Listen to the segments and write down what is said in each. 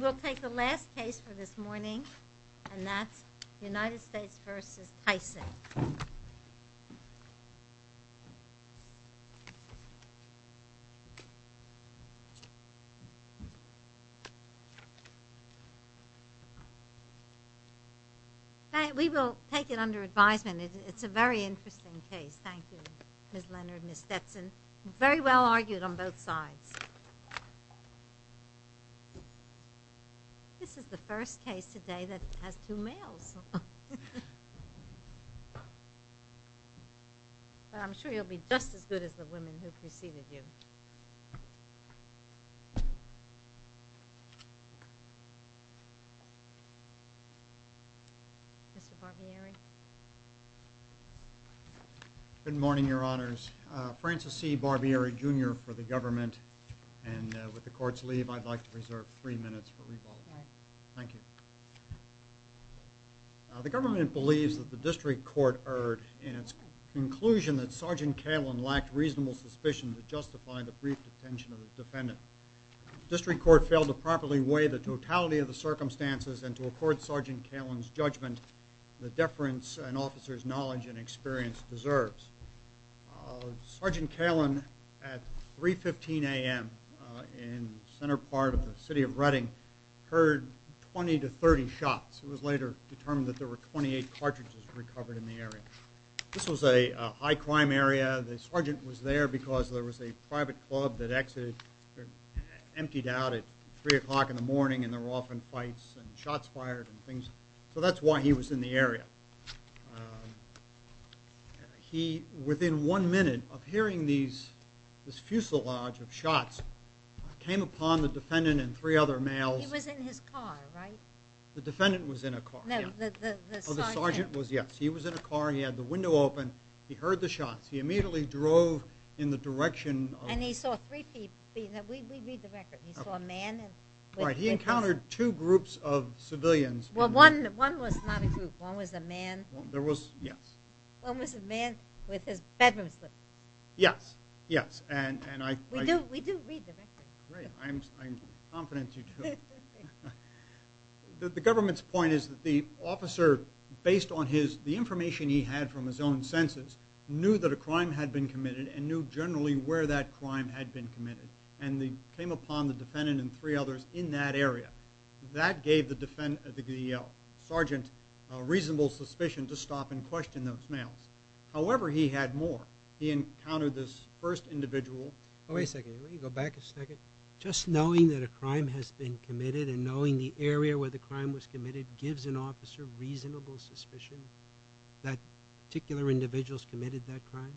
We'll take the last case for this morning and that's United States v. Tyson We will take it under advisement, it's a very interesting case, thank you Ms. Leonard and Ms. Stetson Very well argued on both sides. This is the first case today that has two males. I'm sure you'll be just as good as the women who preceded you. Mr. Barbieri Good morning your honors. Francis C. Barbieri Jr. for the government and with the court's leave I'd like to reserve three minutes for rebuttal. Thank you. The government believes that the district court erred in its conclusion that Sgt. Kalin lacked reasonable suspicion to justify the brief detention of the defendant. The district court failed to properly weigh the totality of the circumstances and to accord Sgt. Kalin's judgment the deference an officer's knowledge and experience deserves. Sgt. Kalin at 3.15 a.m. in the center part of the city of Reading heard 20 to 30 shots. It was later determined that there were 28 cartridges recovered in the area. This was a high crime area. The sergeant was there because there was a private club that emptied out at 3 o'clock in the morning and there were often fights and shots fired. So that's why he was in the area. Within one minute of hearing this fusillage of shots came upon the defendant and three other males. He was in his car, right? The defendant was in a car, yes. The sergeant was in a car, he had the window open, he heard the shots, he immediately drove in the direction. And he saw three people, we read the record, he saw a man. He encountered two groups of civilians. Well one was not a group, one was a man. Yes. One was a man with his bedroom slip. Yes, yes. We do read the record. Great, I'm confident you do. The government's point is that the officer, based on the information he had from his own senses, knew that a crime had been committed and knew generally where that crime had been committed. And he came upon the defendant and three others in that area. That gave the DEL, sergeant, reasonable suspicion to stop and question those males. However, he had more. He encountered this first individual. Wait a second, let me go back a second. Just knowing that a crime has been committed and knowing the area where the crime was committed gives an officer reasonable suspicion that particular individuals committed that crime?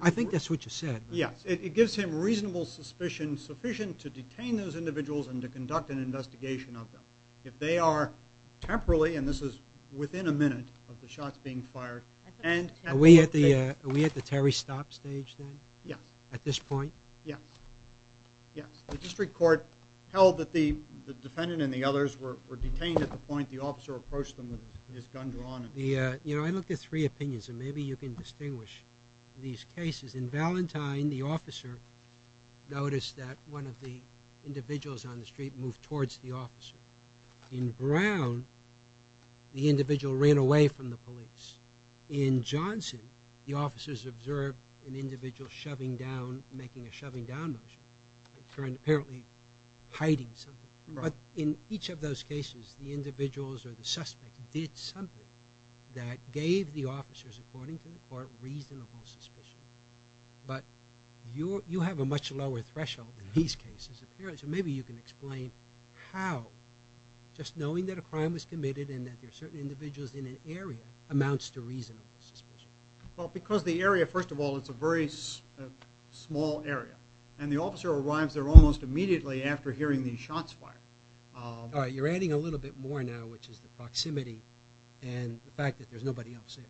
I think that's what you said. Yes. It gives him reasonable suspicion, sufficient to detain those individuals and to conduct an investigation of them. If they are temporarily, and this is within a minute of the shots being fired. Are we at the Terry stop stage then? Yes. At this point? Yes. Yes. The district court held that the defendant and the others were detained at the point the officer approached them with his gun drawn. You know, I looked at three opinions and maybe you can distinguish these cases. In Valentine, the officer noticed that one of the individuals on the street moved towards the officer. In Brown, the individual ran away from the police. In Johnson, the officers observed an individual shoving down, making a shoving down motion. Apparently hiding something. But in each of those cases, the individuals or the suspect did something that gave the officers, according to the court, reasonable suspicion. But you have a much lower threshold in these cases. Maybe you can explain how just knowing that a crime was committed and that there are certain individuals in an area amounts to reasonable suspicion. Well, because the area, first of all, it's a very small area. And the officer arrives there almost immediately after hearing the shots fired. All right. You're adding a little bit more now, which is the proximity and the fact that there's nobody else there.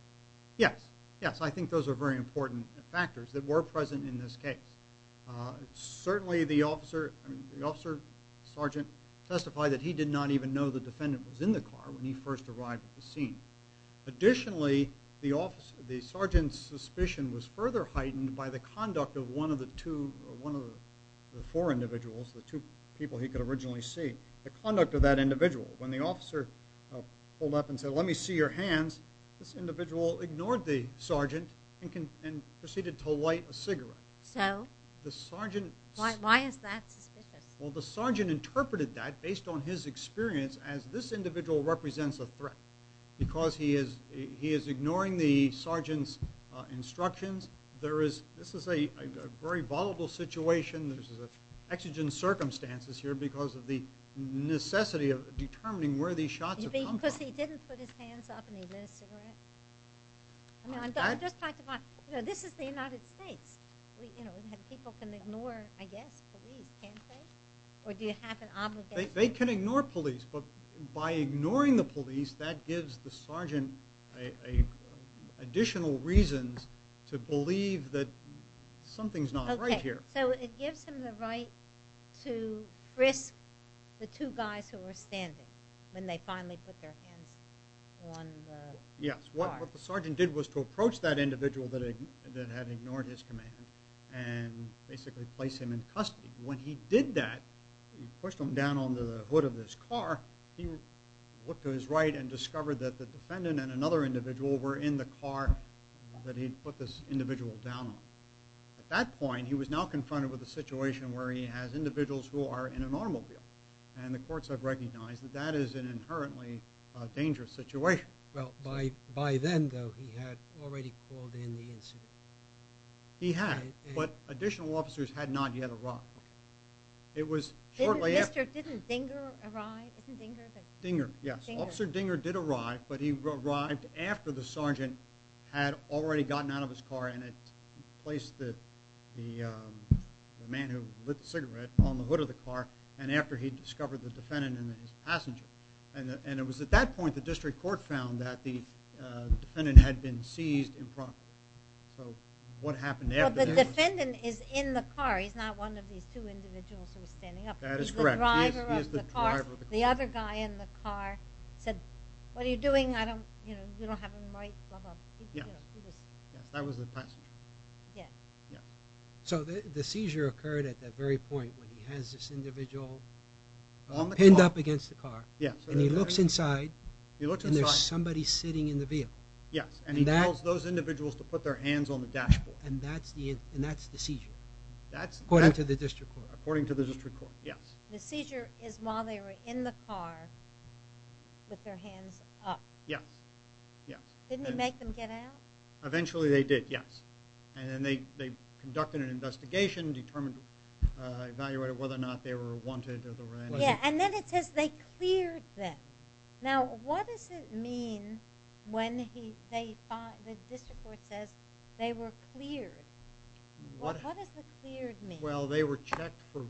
Yes. Yes. I think those are very important factors that were present in this case. Certainly the officer, the officer sergeant testified that he did not even know the defendant was in the car when he first arrived at the scene. Additionally, the sergeant's suspicion was further heightened by the conduct of one of the four individuals, the two people he could originally see. The conduct of that individual. When the officer pulled up and said, let me see your hands, this individual ignored the sergeant and proceeded to light a cigarette. So? Why is that suspicious? Well, the sergeant interpreted that based on his experience as this individual represents a threat because he is ignoring the sergeant's instructions. This is a very vulnerable situation. There's exigent circumstances here because of the necessity of determining where these shots have come from. Because he didn't put his hands up and he lit a cigarette? I just talked about this is the United States. People can ignore, I guess, police, can't they? Or do you have an obligation? They can ignore police, but by ignoring the police, that gives the sergeant additional reasons to believe that something's not right here. Okay. So it gives him the right to risk the two guys who were standing when they finally put their hands on the car. Yes. What the sergeant did was to approach that individual that had ignored his command and basically place him in custody. When he did that, he pushed him down onto the hood of his car. He looked to his right and discovered that the defendant and another individual were in the car that he put this individual down on. At that point, he was now confronted with a situation where he has individuals who are in an automobile. And the courts have recognized that that is an inherently dangerous situation. Well, by then, though, he had already called in the incident. He had, but additional officers had not yet arrived. It was shortly after. Didn't Dinger arrive? Dinger, yes. Officer Dinger did arrive, but he arrived after the sergeant had already gotten out of his car and had placed the man who lit the cigarette on the hood of the car and after he discovered the defendant and his passenger. And it was at that point the district court found that the defendant had been seized impromptu. So what happened there? Well, the defendant is in the car. He's not one of these two individuals who are standing up. That is correct. He is the driver of the car. The other guy in the car said, what are you doing? I don't, you know, you don't have a right, blah, blah. Yes, that was the passenger. Yes. Yes. So the seizure occurred at that very point when he has this individual pinned up against the car. Yes. And he looks inside and there's somebody sitting in the vehicle. Yes, and he tells those individuals to put their hands on the dashboard. And that's the seizure, according to the district court. According to the district court, yes. The seizure is while they were in the car with their hands up. Yes, yes. Didn't he make them get out? Eventually they did, yes. And then they conducted an investigation, determined, evaluated whether or not they were wanted. Yes, and then it says they cleared them. Now, what does it mean when the district court says they were cleared? What does the cleared mean? Well, they were checked for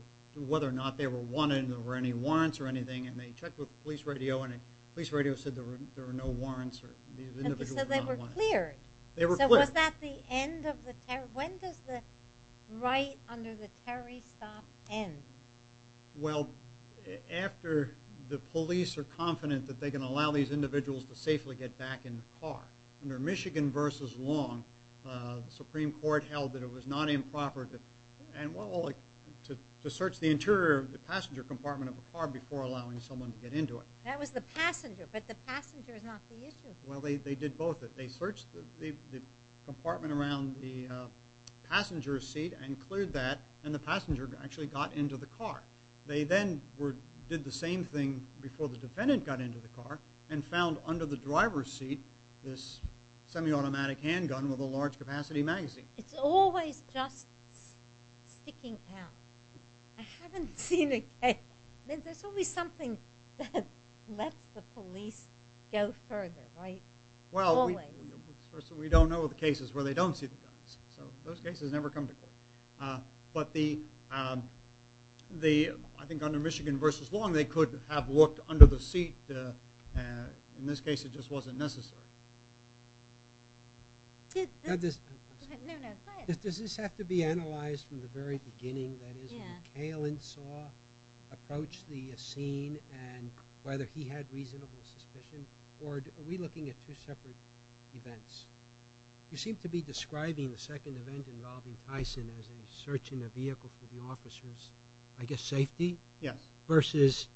whether or not they were wanted and there were any warrants or anything. And they checked with the police radio, and the police radio said there were no warrants. So they were cleared. They were cleared. Was that the end of the terror? When does the right under the terrorist stop end? Well, after the police are confident that they can allow these individuals to safely get back in the car. Under Michigan v. Long, the Supreme Court held that it was not improper to search the interior of the passenger compartment of a car before allowing someone to get into it. That was the passenger, but the passenger is not the issue. Well, they did both. They searched the compartment around the passenger seat and cleared that, and the passenger actually got into the car. They then did the same thing before the defendant got into the car and found under the driver's seat this semi-automatic handgun with a large-capacity magazine. It's always just sticking out. I haven't seen it. There's always something that lets the police go further, right? Always. Well, we don't know the cases where they don't see the guns, so those cases never come to court. But I think under Michigan v. Long, they could have looked under the seat. In this case, it just wasn't necessary. No, no, go ahead. Does this have to be analyzed from the very beginning? That is, did McHale and Saw approach the scene and whether he had reasonable suspicion, or are we looking at two separate events? You seem to be describing the second event involving Tyson as a search in a vehicle for the officer's, I guess, safety versus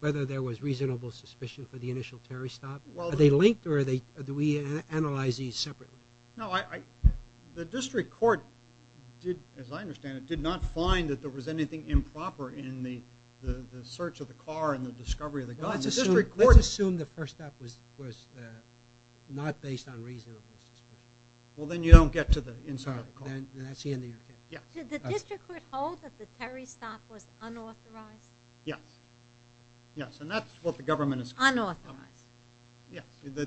whether there was reasonable suspicion for the initial terrorist stop. Are they linked, or do we analyze these separately? No, the district court, as I understand it, did not find that there was anything improper in the search of the car and the discovery of the gun. Let's assume the first step was not based on reasonable suspicion. Well, then you don't get to the inside of the car. Did the district court hold that the terrorist stop was unauthorized? Yes, yes, and that's what the government is calling it. Unauthorized. Yes, the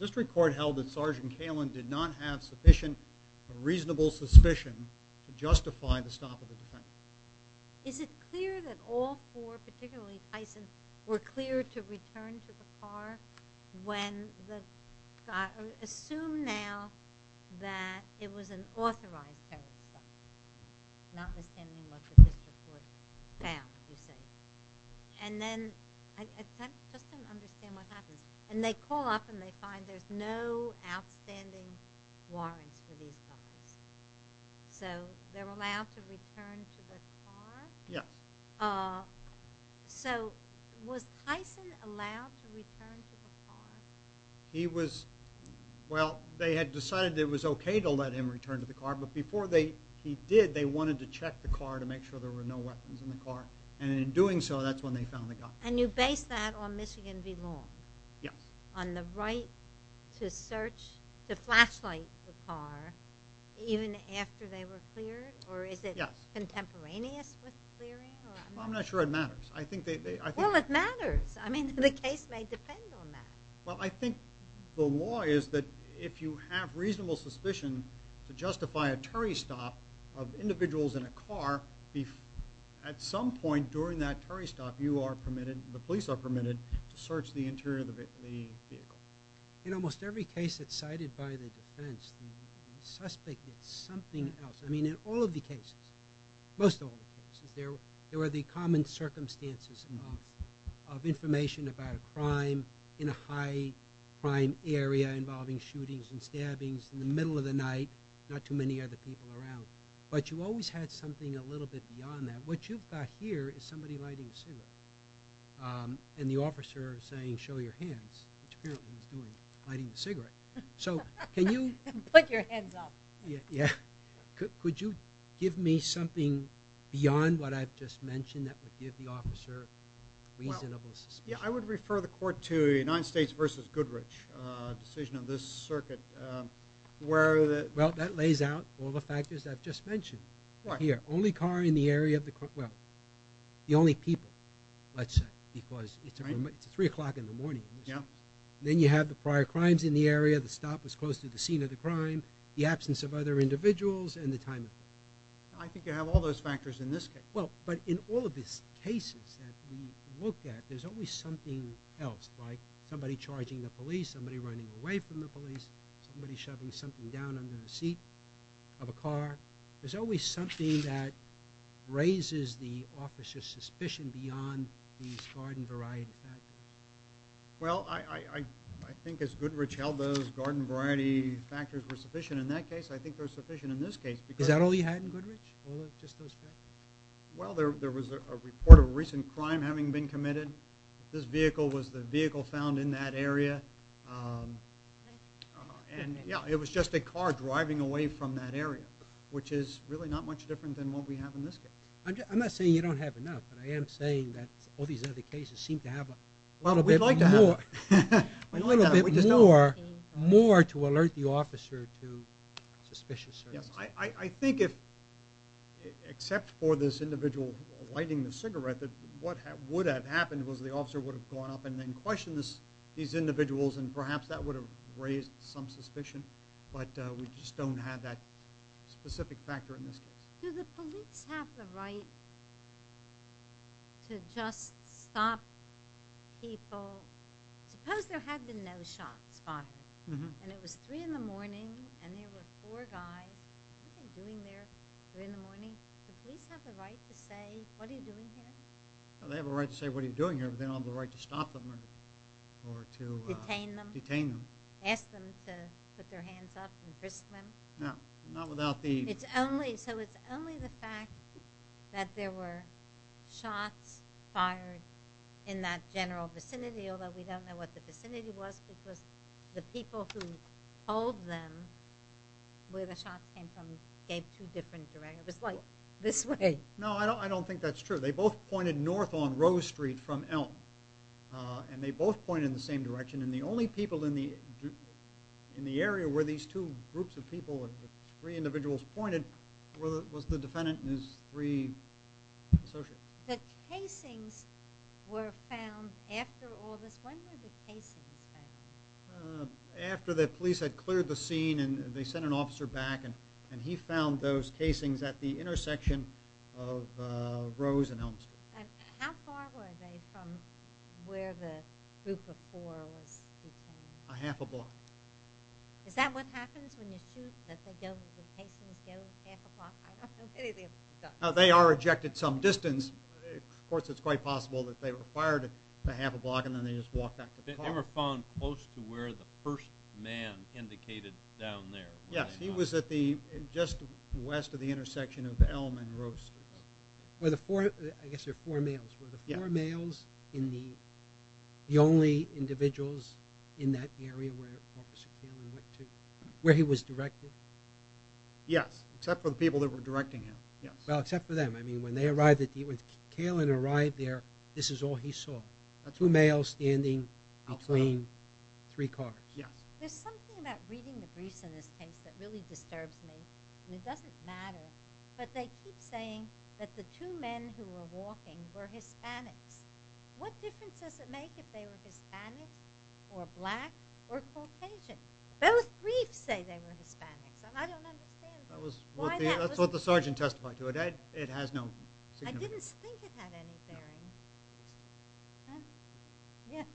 district court held that Sergeant Kalin did not have sufficient or reasonable suspicion to justify the stop of the defense. Is it clear that all four, particularly Tyson, were cleared to return to the car when the, assume now that it was an authorized terrorist stop, not understanding what the district court found, you say. And then, I just don't understand what happens. And they call up and they find there's no outstanding warrants for these guys. So, they're allowed to return to the car? Yes. So, was Tyson allowed to return to the car? Well, they had decided it was okay to let him return to the car, but before he did, they wanted to check the car to make sure there were no weapons in the car. And in doing so, that's when they found the gun. And you base that on Michigan v. Long? Yes. On the right to search, to flashlight the car, even after they were cleared? Yes. Or is it contemporaneous with clearing? Well, I'm not sure it matters. Well, it matters. I mean, the case may depend on that. Well, I think the law is that if you have reasonable suspicion to justify a terrorist stop of individuals in a car, at some point during that terrorist stop, you are permitted, the police are permitted, to search the interior of the vehicle. In almost every case that's cited by the defense, the suspect is something else. I mean, in all of the cases, most of all the cases, there were the common circumstances of information about a crime in a high crime area involving shootings and stabbings in the middle of the night, not too many other people around. But you always had something a little bit beyond that. What you've got here is somebody lighting a cigarette. And the officer is saying, show your hands, which apparently he's doing, lighting the cigarette. So, can you? Put your hands up. Yeah. Could you give me something beyond what I've just mentioned that would give the officer reasonable suspicion? Yeah, I would refer the court to the United States versus Goodrich decision of this circuit. Well, that lays out all the factors I've just mentioned. Why? Here, only car in the area of the, well, the only people, let's say, because it's 3 o'clock in the morning. Yeah. Then you have the prior crimes in the area, the stop was close to the scene of the crime, the absence of other individuals, and the time of death. I think you have all those factors in this case. Well, but in all of these cases that we look at, there's always something else, like somebody charging the police, somebody running away from the police, somebody shoving something down under the seat of a car. There's always something that raises the officer's suspicion beyond these garden variety factors. Well, I think as Goodrich held those garden variety factors were sufficient in that case, I think they're sufficient in this case. Is that all you had in Goodrich, all of just those factors? Well, there was a report of a recent crime having been committed. This vehicle was the vehicle found in that area. And, yeah, it was just a car driving away from that area, which is really not much different than what we have in this case. I'm not saying you don't have enough, but I am saying that all these other cases seem to have a little bit more to alert the officer to suspicious circumstances. I think if, except for this individual lighting the cigarette, what would have happened was the officer would have gone up and then questioned these individuals, and perhaps that would have raised some suspicion. But we just don't have that specific factor in this case. Do the police have the right to just stop people? Suppose there had been no shots fired, and it was 3 in the morning, and there were four guys. What are they doing there, 3 in the morning? Do the police have the right to say, what are you doing here? Well, they have a right to say, what are you doing here? But they don't have the right to stop them or to— Detain them? Detain them. Ask them to put their hands up and frisk them? No, not without the— So it's only the fact that there were shots fired in that general vicinity, although we don't know what the vicinity was, because the people who told them where the shots came from gave two different directions. It was like this way. No, I don't think that's true. They both pointed north on Rose Street from Elm, and they both pointed in the same direction. And the only people in the area where these two groups of people, the three individuals pointed, was the defendant and his three associates. The casings were found after all this. When were the casings found? After the police had cleared the scene, and they sent an officer back, and he found those casings at the intersection of Rose and Elm Street. How far were they from where the group of four was detained? A half a block. Is that what happens when you shoot, that the casings go a half a block? I don't know anything about that. They are ejected some distance. Of course, it's quite possible that they were fired a half a block, and then they just walked back to the car. They were found close to where the first man indicated down there. Yes, he was just west of the intersection of Elm and Rose Street. I guess there were four males. Were the four males the only individuals in that area where Officer Kaelin went to, where he was directed? Yes, except for the people that were directing him. Well, except for them. When Kaelin arrived there, this is all he saw, two males standing between three cars. There's something about reading the briefs in this case that really disturbs me. It doesn't matter, but they keep saying that the two men who were walking were Hispanics. What difference does it make if they were Hispanics or black or Caucasian? Both briefs say they were Hispanics, and I don't understand why that wasn't true. That's what the sergeant testified to. It has no significance. I didn't think it had any bearing. No. Yes.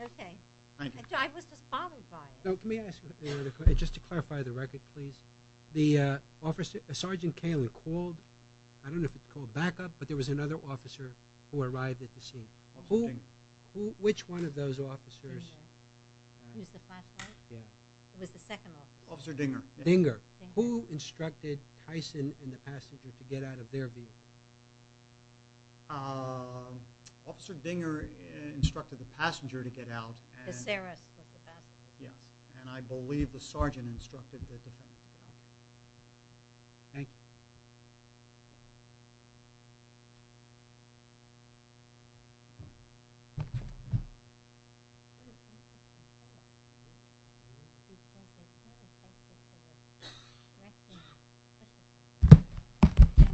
Okay. Thank you. I was just bothered by it. Let me ask you, just to clarify the record, please. The sergeant Kaelin called, I don't know if it was called backup, but there was another officer who arrived at the scene. Officer Dinger. Which one of those officers? Dinger. It was the first one? Yeah. It was the second officer. Officer Dinger. Dinger. Who instructed Tyson and the passenger to get out of their vehicle? Officer Dinger instructed the passenger to get out. Yes. And I believe the sergeant instructed the defendant to get out. Thank you. Oh,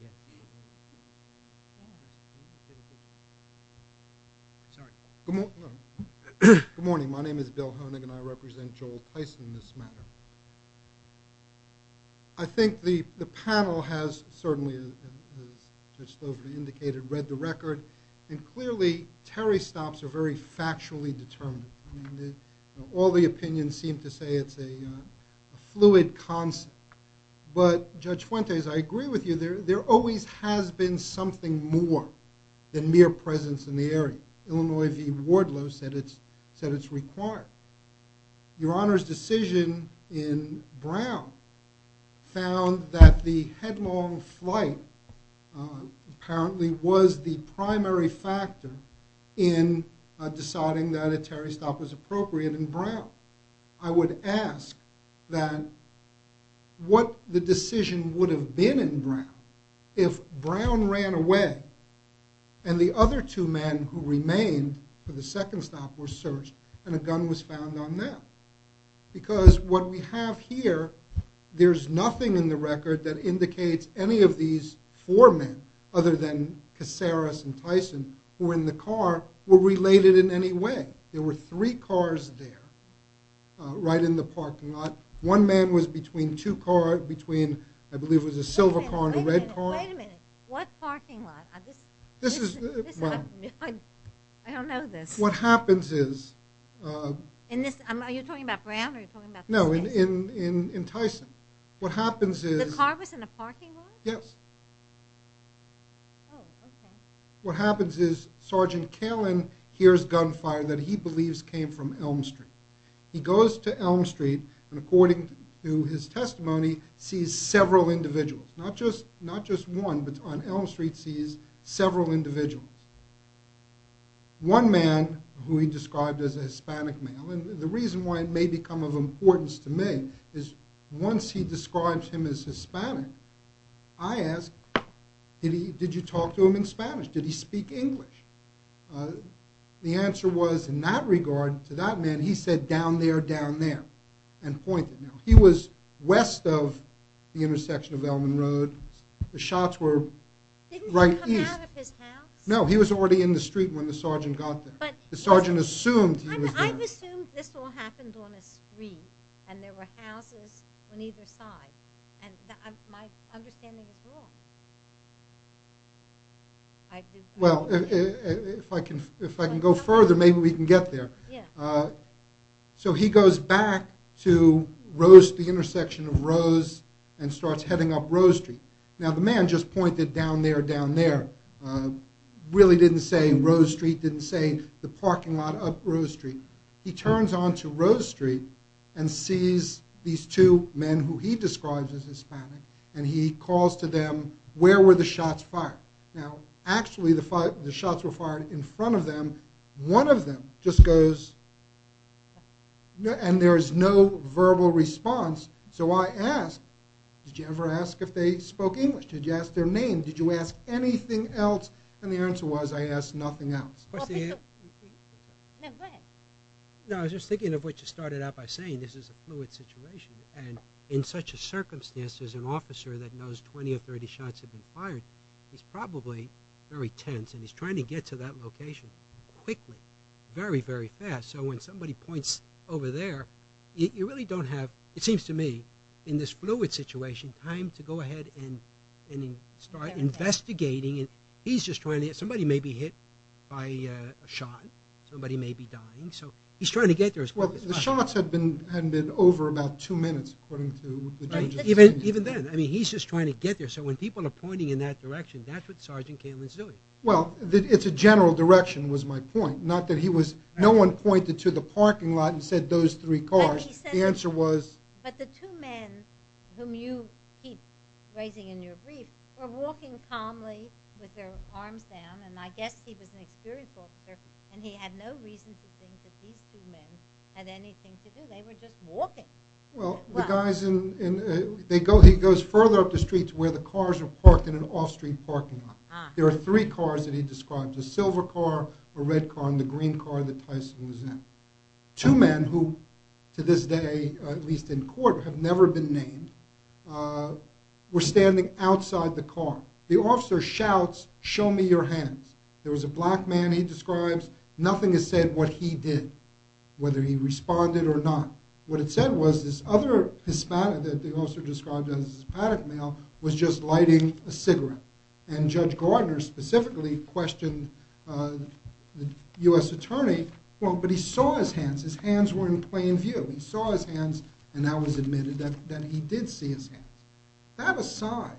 yeah. Sorry. Good morning. My name is Bill Honig, and I represent Joel Tyson in this matter. I think the panel has certainly, as Judge Slover indicated, read the record. And clearly, Terry stops are very factually determined. All the opinions seem to say it's a fluid concept. But, Judge Fuentes, I agree with you. There always has been something more than mere presence in the area. Illinois v. Wardlow said it's required. Your Honor's decision in Brown found that the headlong flight apparently was the primary factor in deciding that a Terry stop was appropriate in Brown. I would ask that what the decision would have been in Brown if Brown ran away, and the other two men who remained for the second stop were searched, and a gun was found on them. Because what we have here, there's nothing in the record that indicates any of these four men, other than Caceres and Tyson, who were in the car, were related in any way. There were three cars there, right in the parking lot. One man was between two cars, between, I believe it was a silver car and a red car. Wait a minute. What parking lot? This is... I don't know this. What happens is... Are you talking about Brown, or are you talking about... No, in Tyson. What happens is... The car was in the parking lot? Yes. Oh, okay. What happens is Sergeant Kalin hears gunfire that he believes came from Elm Street. He goes to Elm Street, and according to his testimony, sees several individuals. Not just one, but on Elm Street, sees several individuals. One man, who he described as a Hispanic male, and the reason why it may become of importance to me, is once he describes him as Hispanic, I ask, did you talk to him in Spanish? Did he speak English? The answer was, in that regard, to that man, he said, down there, down there, and pointed. He was west of the intersection of Elm and Road. The shots were right east. Didn't he come out of his house? No, he was already in the street when the sergeant got there. The sergeant assumed he was there. I've assumed this all happened on a street, and there were houses on either side, and my understanding is wrong. Well, if I can go further, maybe we can get there. Yeah. So he goes back to Rose, the intersection of Rose, and starts heading up Rose Street. Now, the man just pointed down there, down there. Really didn't say Rose Street, didn't say the parking lot up Rose Street. He turns on to Rose Street and sees these two men who he describes as Hispanic, and he calls to them, where were the shots fired? Now, actually, the shots were fired in front of them. One of them just goes, and there is no verbal response, so I ask, did you ever ask if they spoke English? Did you ask their name? Did you ask anything else? And the answer was, I asked nothing else. No, I was just thinking of what you started out by saying. This is a fluid situation, and in such a circumstance, there's an officer that knows 20 or 30 shots have been fired. He's probably very tense, and he's trying to get to that location quickly, very, very fast. So when somebody points over there, you really don't have, it seems to me, in this fluid situation, time to go ahead and start investigating. He's just trying to get, somebody may be hit by a shot. Somebody may be dying. So he's trying to get there as quickly as possible. Well, the shots had been over about two minutes, according to the judge's statement. Even then, I mean, he's just trying to get there. So when people are pointing in that direction, that's what Sergeant Cameron's doing. Well, it's a general direction was my point. Not that he was, no one pointed to the parking lot and said those three cars. The answer was? But the two men whom you keep raising in your brief were walking calmly with their arms down, and I guess he was an experienced officer, and he had no reason to think that these two men had anything to do. They were just walking. Well, the guys in, they go, he goes further up the street to where the cars are parked in an off-street parking lot. There are three cars that he described, a silver car, a red car, and the green car that Tyson was in. Two men who, to this day, at least in court, have never been named, were standing outside the car. The officer shouts, show me your hands. There was a black man, he describes. Nothing is said what he did, whether he responded or not. What it said was this other Hispanic, that the officer described as a Hispanic male, was just lighting a cigarette. And Judge Gardner specifically questioned the U.S. attorney. Well, but he saw his hands. His hands were in plain view. He saw his hands, and that was admitted that he did see his hands. That aside,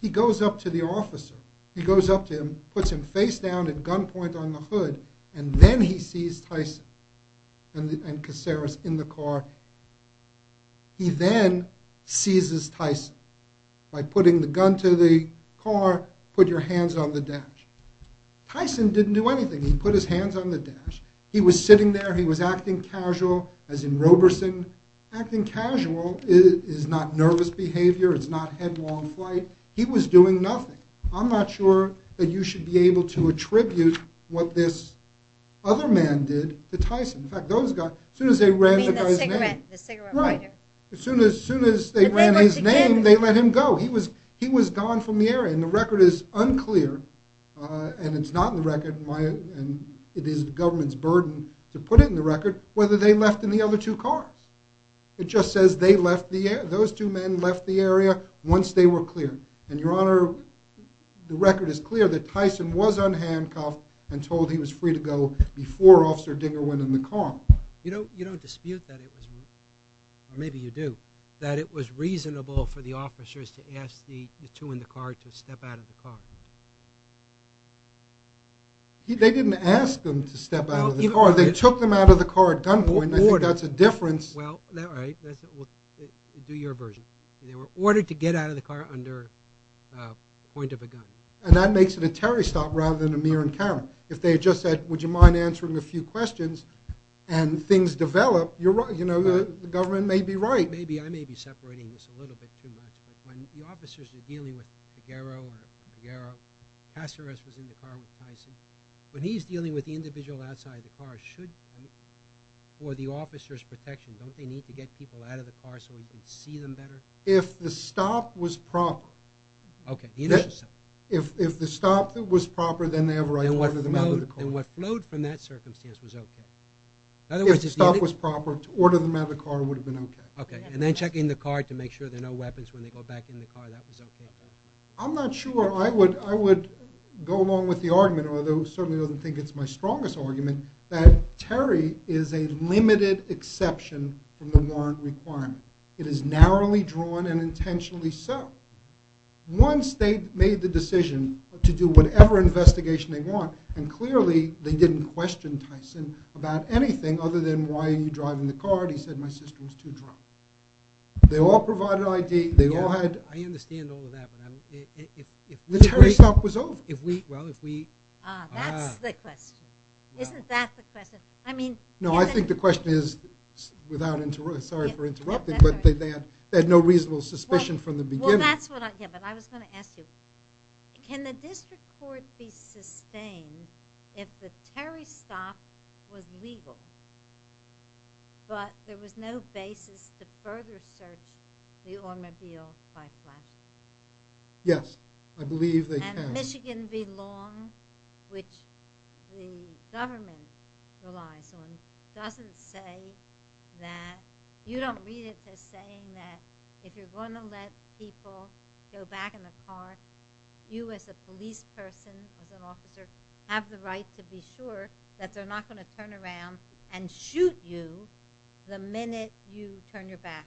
he goes up to the officer. He goes up to him, puts him face down at gunpoint on the hood, and then he sees Tyson and Caceres in the car. He then seizes Tyson by putting the gun to the car, put your hands on the dash. Tyson didn't do anything. He put his hands on the dash. He was sitting there, he was acting casual, as in Roberson. Acting casual is not nervous behavior, it's not headlong flight. He was doing nothing. I'm not sure that you should be able to attribute what this other man did to Tyson. In fact, those guys, as soon as they ran the guy's name. I mean the cigarette, the cigarette lighter. Right. As soon as they ran his name, they let him go. He was gone from the area. And the record is unclear, and it's not in the record, and it is the government's burden to put it in the record, whether they left in the other two cars. It just says those two men left the area once they were cleared. And, Your Honor, the record is clear that Tyson was unhandcuffed and told he was free to go before Officer Dinger went in the car. You don't dispute that it was, or maybe you do, that it was reasonable for the officers to ask the two in the car to step out of the car. They didn't ask them to step out of the car. They took them out of the car at gunpoint, and I think that's a difference. Well, all right, do your version. They were ordered to get out of the car under point of a gun. And that makes it a Terry stop rather than a mere encounter. If they had just said, would you mind answering a few questions, and things develop, you know, the government may be right. I may be separating this a little bit too much, but when the officers are dealing with Figueroa or Figueroa, Caceres was in the car with Tyson. When he's dealing with the individual outside the car, should, for the officer's protection, don't they need to get people out of the car so he can see them better? If the stop was proper. Okay, the initial stop. If the stop was proper, then they have a right to order them out of the car. And what flowed from that circumstance was okay. In other words, if the stop was proper, to order them out of the car would have been okay. Okay, and then checking the car to make sure there are no weapons when they go back in the car, that was okay. I'm not sure. I would go along with the argument, although it certainly doesn't think it's my strongest argument, that Terry is a limited exception from the warrant requirement. It is narrowly drawn and intentionally so. Once they made the decision to do whatever investigation they want, and clearly they didn't question Tyson about anything other than, why are you driving the car? He said, my sister was too drunk. They all provided ID. I understand all of that. The Terry stop was over. That's the question. Isn't that the question? No, I think the question is, without interruption, sorry for interrupting, but they had no reasonable suspicion from the beginning. Yeah, but I was going to ask you, can the district court be sustained if the Terry stop was legal, but there was no basis to further search the automobile by flashing? Yes, I believe they can. And Michigan v. Long, which the government relies on, doesn't say that, you don't read it as saying that, if you're going to let people go back in the car, you as a police person, as an officer, have the right to be sure that they're not going to turn around and shoot you the minute you turn your back.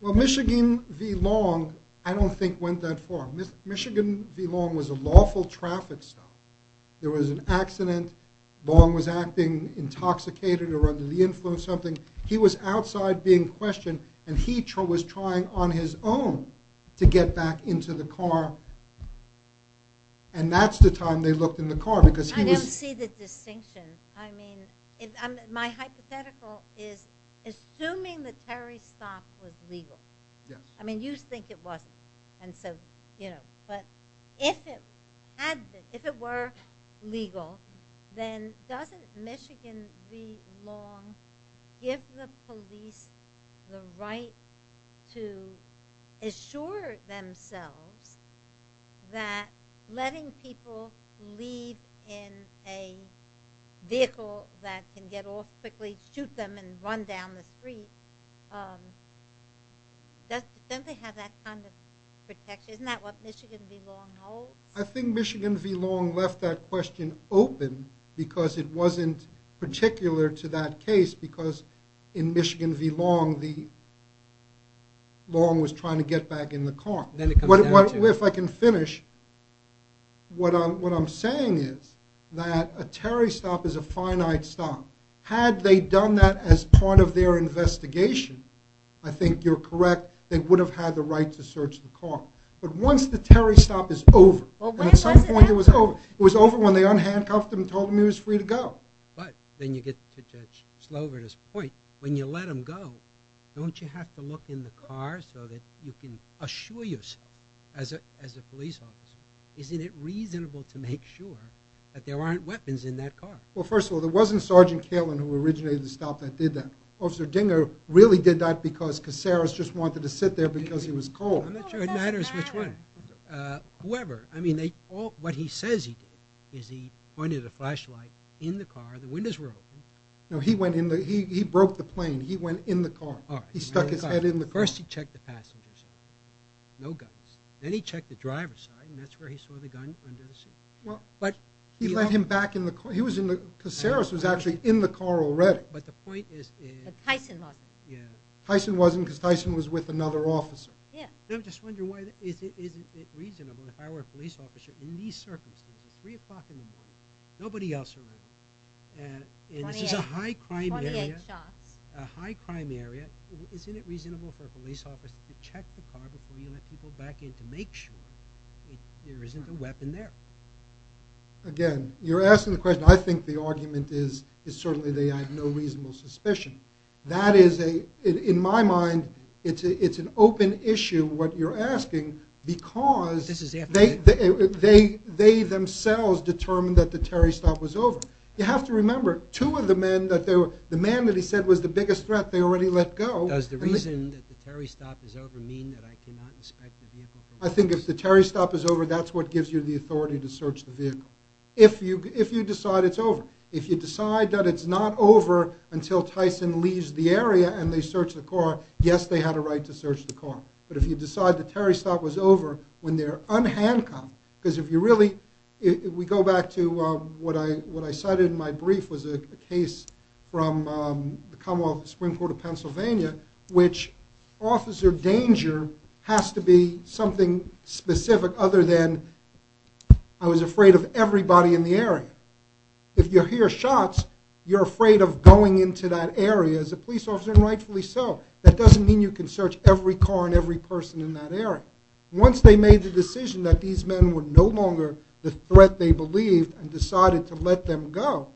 Well, Michigan v. Long I don't think went that far. Michigan v. Long was a lawful traffic stop. There was an accident. Long was acting intoxicated or under the influence of something. He was outside being questioned, and he was trying on his own to get back into the car, and that's the time they looked in the car. I don't see the distinction. I mean, my hypothetical is assuming the Terry stop was legal. Yes. I mean, you think it wasn't. But if it were legal, then doesn't Michigan v. Long give the police the right to assure themselves that letting people leave in a vehicle that can get off quickly, shoot them and run down the street, doesn't they have that kind of protection? Isn't that what Michigan v. Long holds? I think Michigan v. Long left that question open because it wasn't particular to that case because in Michigan v. Long, Long was trying to get back in the car. If I can finish, what I'm saying is that a Terry stop is a finite stop. Had they done that as part of their investigation, I think you're correct, they would have had the right to search the car. But once the Terry stop is over, and at some point it was over, it was over when they unhandcuffed him and told him he was free to go. But then you get to Judge Slover's point, when you let them go, don't you have to look in the car so that you can assure yourself as a police officer, isn't it reasonable to make sure that there aren't weapons in that car? Well, first of all, there wasn't Sergeant Kalin who originated the stop that did that. Officer Dinger really did that because Caceres just wanted to sit there because he was cold. I'm not sure it matters which one. Whoever, I mean what he says he did is he pointed a flashlight in the car, the windows were open. No, he broke the plane. He went in the car. He stuck his head in the car. First he checked the passengers, no guns. Then he checked the driver's side and that's where he saw the gun under the seat. He let him back in the car. Caceres was actually in the car already. But the point is... But Tyson wasn't. Tyson wasn't because Tyson was with another officer. Yeah. I'm just wondering why, isn't it reasonable if I were a police officer in these circumstances, 3 o'clock in the morning, nobody else around, and this is a high crime area, a high crime area, isn't it reasonable for a police officer to check the car before you let people back in to make sure there isn't a weapon there? Again, you're asking the question. I think the argument is certainly they have no reasonable suspicion. That is a, in my mind, it's an open issue what you're asking because they themselves determined that the Terry stop was over. You have to remember, two of the men, the man that he said was the biggest threat, they already let go. Does the reason that the Terry stop is over mean that I cannot inspect the vehicle? I think if the Terry stop is over, that's what gives you the authority to search the vehicle. If you decide it's over. If you decide that it's not over until Tyson leaves the area and they search the car, yes, they had a right to search the car. But if you decide the Terry stop was over when they're unhandcuffed, because if you really, we go back to what I cited in my brief was a case from the Commonwealth Supreme Court of Pennsylvania which officer danger has to be something specific other than I was afraid of everybody in the area. If you hear shots, you're afraid of going into that area as a police officer and rightfully so. That doesn't mean you can search every car and every person in that area. Once they made the decision that these men were no longer the threat they believed and decided to let them go,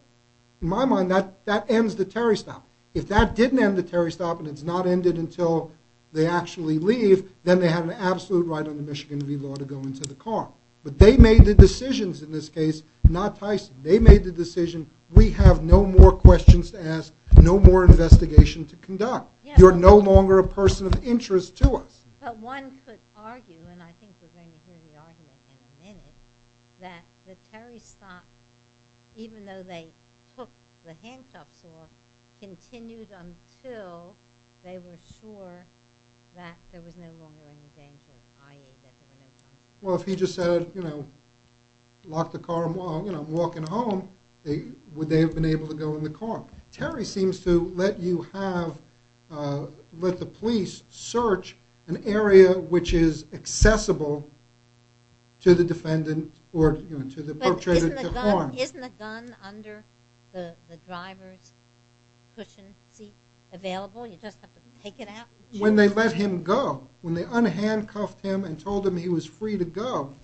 in my mind, that ends the Terry stop. If that didn't end the Terry stop and it's not ended until they actually leave, then they have an absolute right under Michigan v. Law to go into the car. But they made the decisions in this case, not Tyson. They made the decision, we have no more questions to ask, no more investigation to conduct. You're no longer a person of interest to us. But one could argue, and I think we're going to hear the argument in a minute, that the Terry stop, even though they took the handcuffs off, continued until they were sure that there was no longer any danger, i.e. that there were no charges. Well, if he just said, you know, lock the car, I'm walking home, would they have been able to go in the car? Well, Terry seems to let you have, let the police search an area which is accessible to the defendant or to the perpetrator to harm. But isn't the gun under the driver's cushion seat available? You just have to take it out? When they let him go, when they unhandcuffed him and told him he was free to go,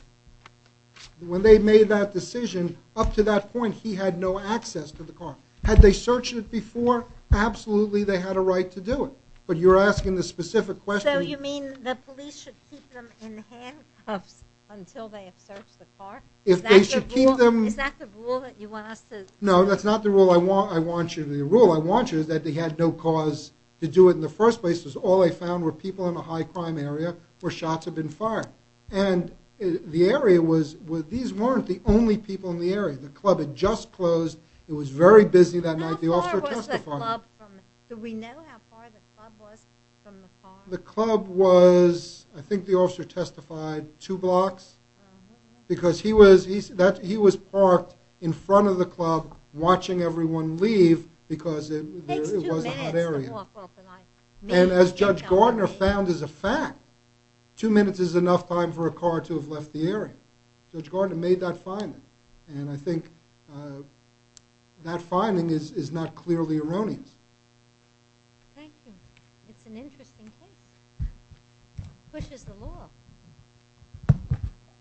when they made that decision, up to that point, he had no access to the car. Had they searched it before? Absolutely, they had a right to do it. But you're asking the specific question. So you mean the police should keep them in handcuffs until they have searched the car? If they should keep them... Is that the rule that you want us to... No, that's not the rule I want you... The rule I want you is that they had no cause to do it in the first place. It was all they found were people in a high-crime area where shots had been fired. And the area was... These weren't the only people in the area. The club had just closed. It was very busy that night. The officer testified... How far was the club from... Do we know how far the club was from the car? The club was... I think the officer testified two blocks. Because he was... He was parked in front of the club watching everyone leave because it was a hot area. And as Judge Gardner found as a fact, two minutes is enough time for a car to have left the area. Judge Gardner made that finding. And I think that finding is not clearly erroneous. Thank you. It's an interesting thing. It pushes the law.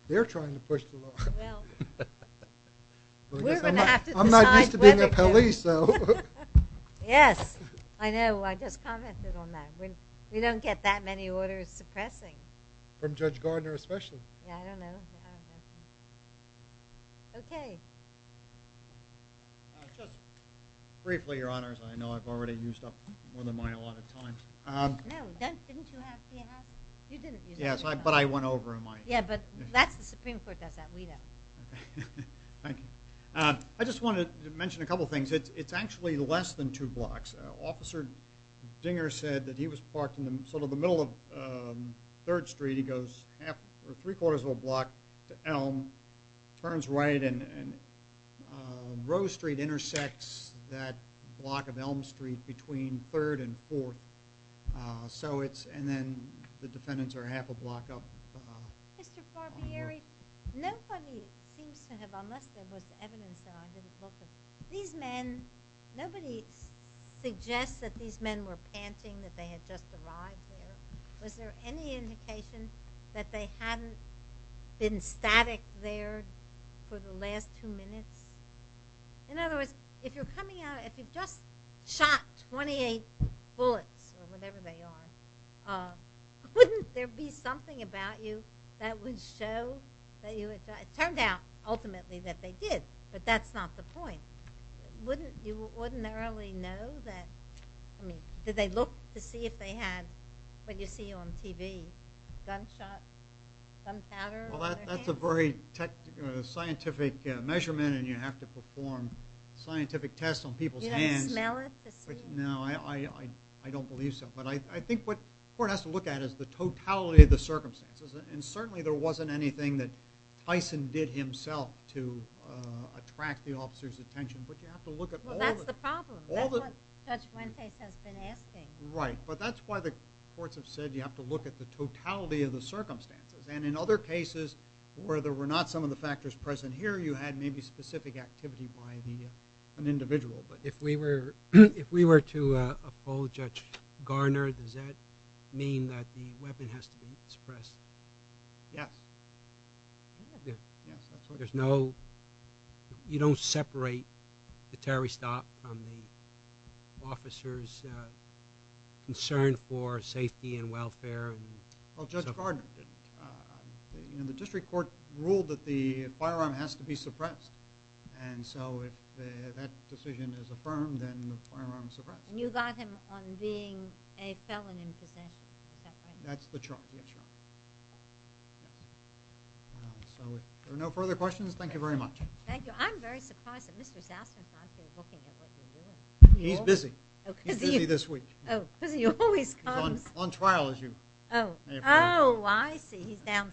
They're trying to push the law. Well... We're going to have to decide... I'm not used to being a police, so... Yes. I know. I just commented on that. We don't get that many orders suppressing. From Judge Gardner especially. Yeah, I don't know. Okay. Just briefly, Your Honors. I know I've already used up more than mine a lot of time. No. Didn't you have... You didn't. Yes, but I went over in mine. Yeah, but that's the Supreme Court. That's that. We don't. Thank you. I just wanted to mention a couple things. It's actually less than two blocks. Officer Dinger said that he was parked in sort of the middle of Third Street. He goes three-quarters of a block to Elm, turns right, and... Rose Street intersects that block of Elm Street between Third and Fourth. So it's... And then the defendants are half a block up. Mr. Barbieri, nobody seems to have... Unless there was evidence that I didn't look at. These men... Nobody suggests that these men were panting that they had just arrived there. Was there any indication that they hadn't been static there for the last two minutes? In other words, if you're coming out... If you've just shot 28 bullets, or whatever they are, wouldn't there be something about you that would show that you had... It turned out, ultimately, that they did, but that's not the point. Wouldn't you ordinarily know that... I mean, did they look to see if they had, what you see on TV, gunshots, gunpowder on their hands? That's a very scientific measurement, and you have to perform scientific tests on people's hands. You don't smell it? No, I don't believe so. But I think what the court has to look at is the totality of the circumstances. And certainly there wasn't anything that Tyson did himself to attract the officer's attention. But you have to look at all the... Well, that's the problem. That's what Judge Wentworth has been asking. Right, but that's why the courts have said you have to look at the totality of the circumstances. And in other cases, where there were not some of the factors present here, you had maybe specific activity by an individual. But if we were to uphold Judge Garner, does that mean that the weapon has to be suppressed? Yes. Yes, that's right. There's no... You don't separate the Terry stop from the officer's concern for safety and welfare? Well, Judge Garner didn't. The district court ruled that the firearm has to be suppressed. And so if that decision is affirmed, then the firearm is suppressed. And you got him on being a felon in possession. Is that right? That's the charge, yes, Your Honor. So if there are no further questions, thank you very much. Thank you. I'm very surprised that Mr. Sassen is not here looking at what you're doing. He's busy. He's busy this week. Oh, because he always comes. On trial, as you may have heard. Oh, I see.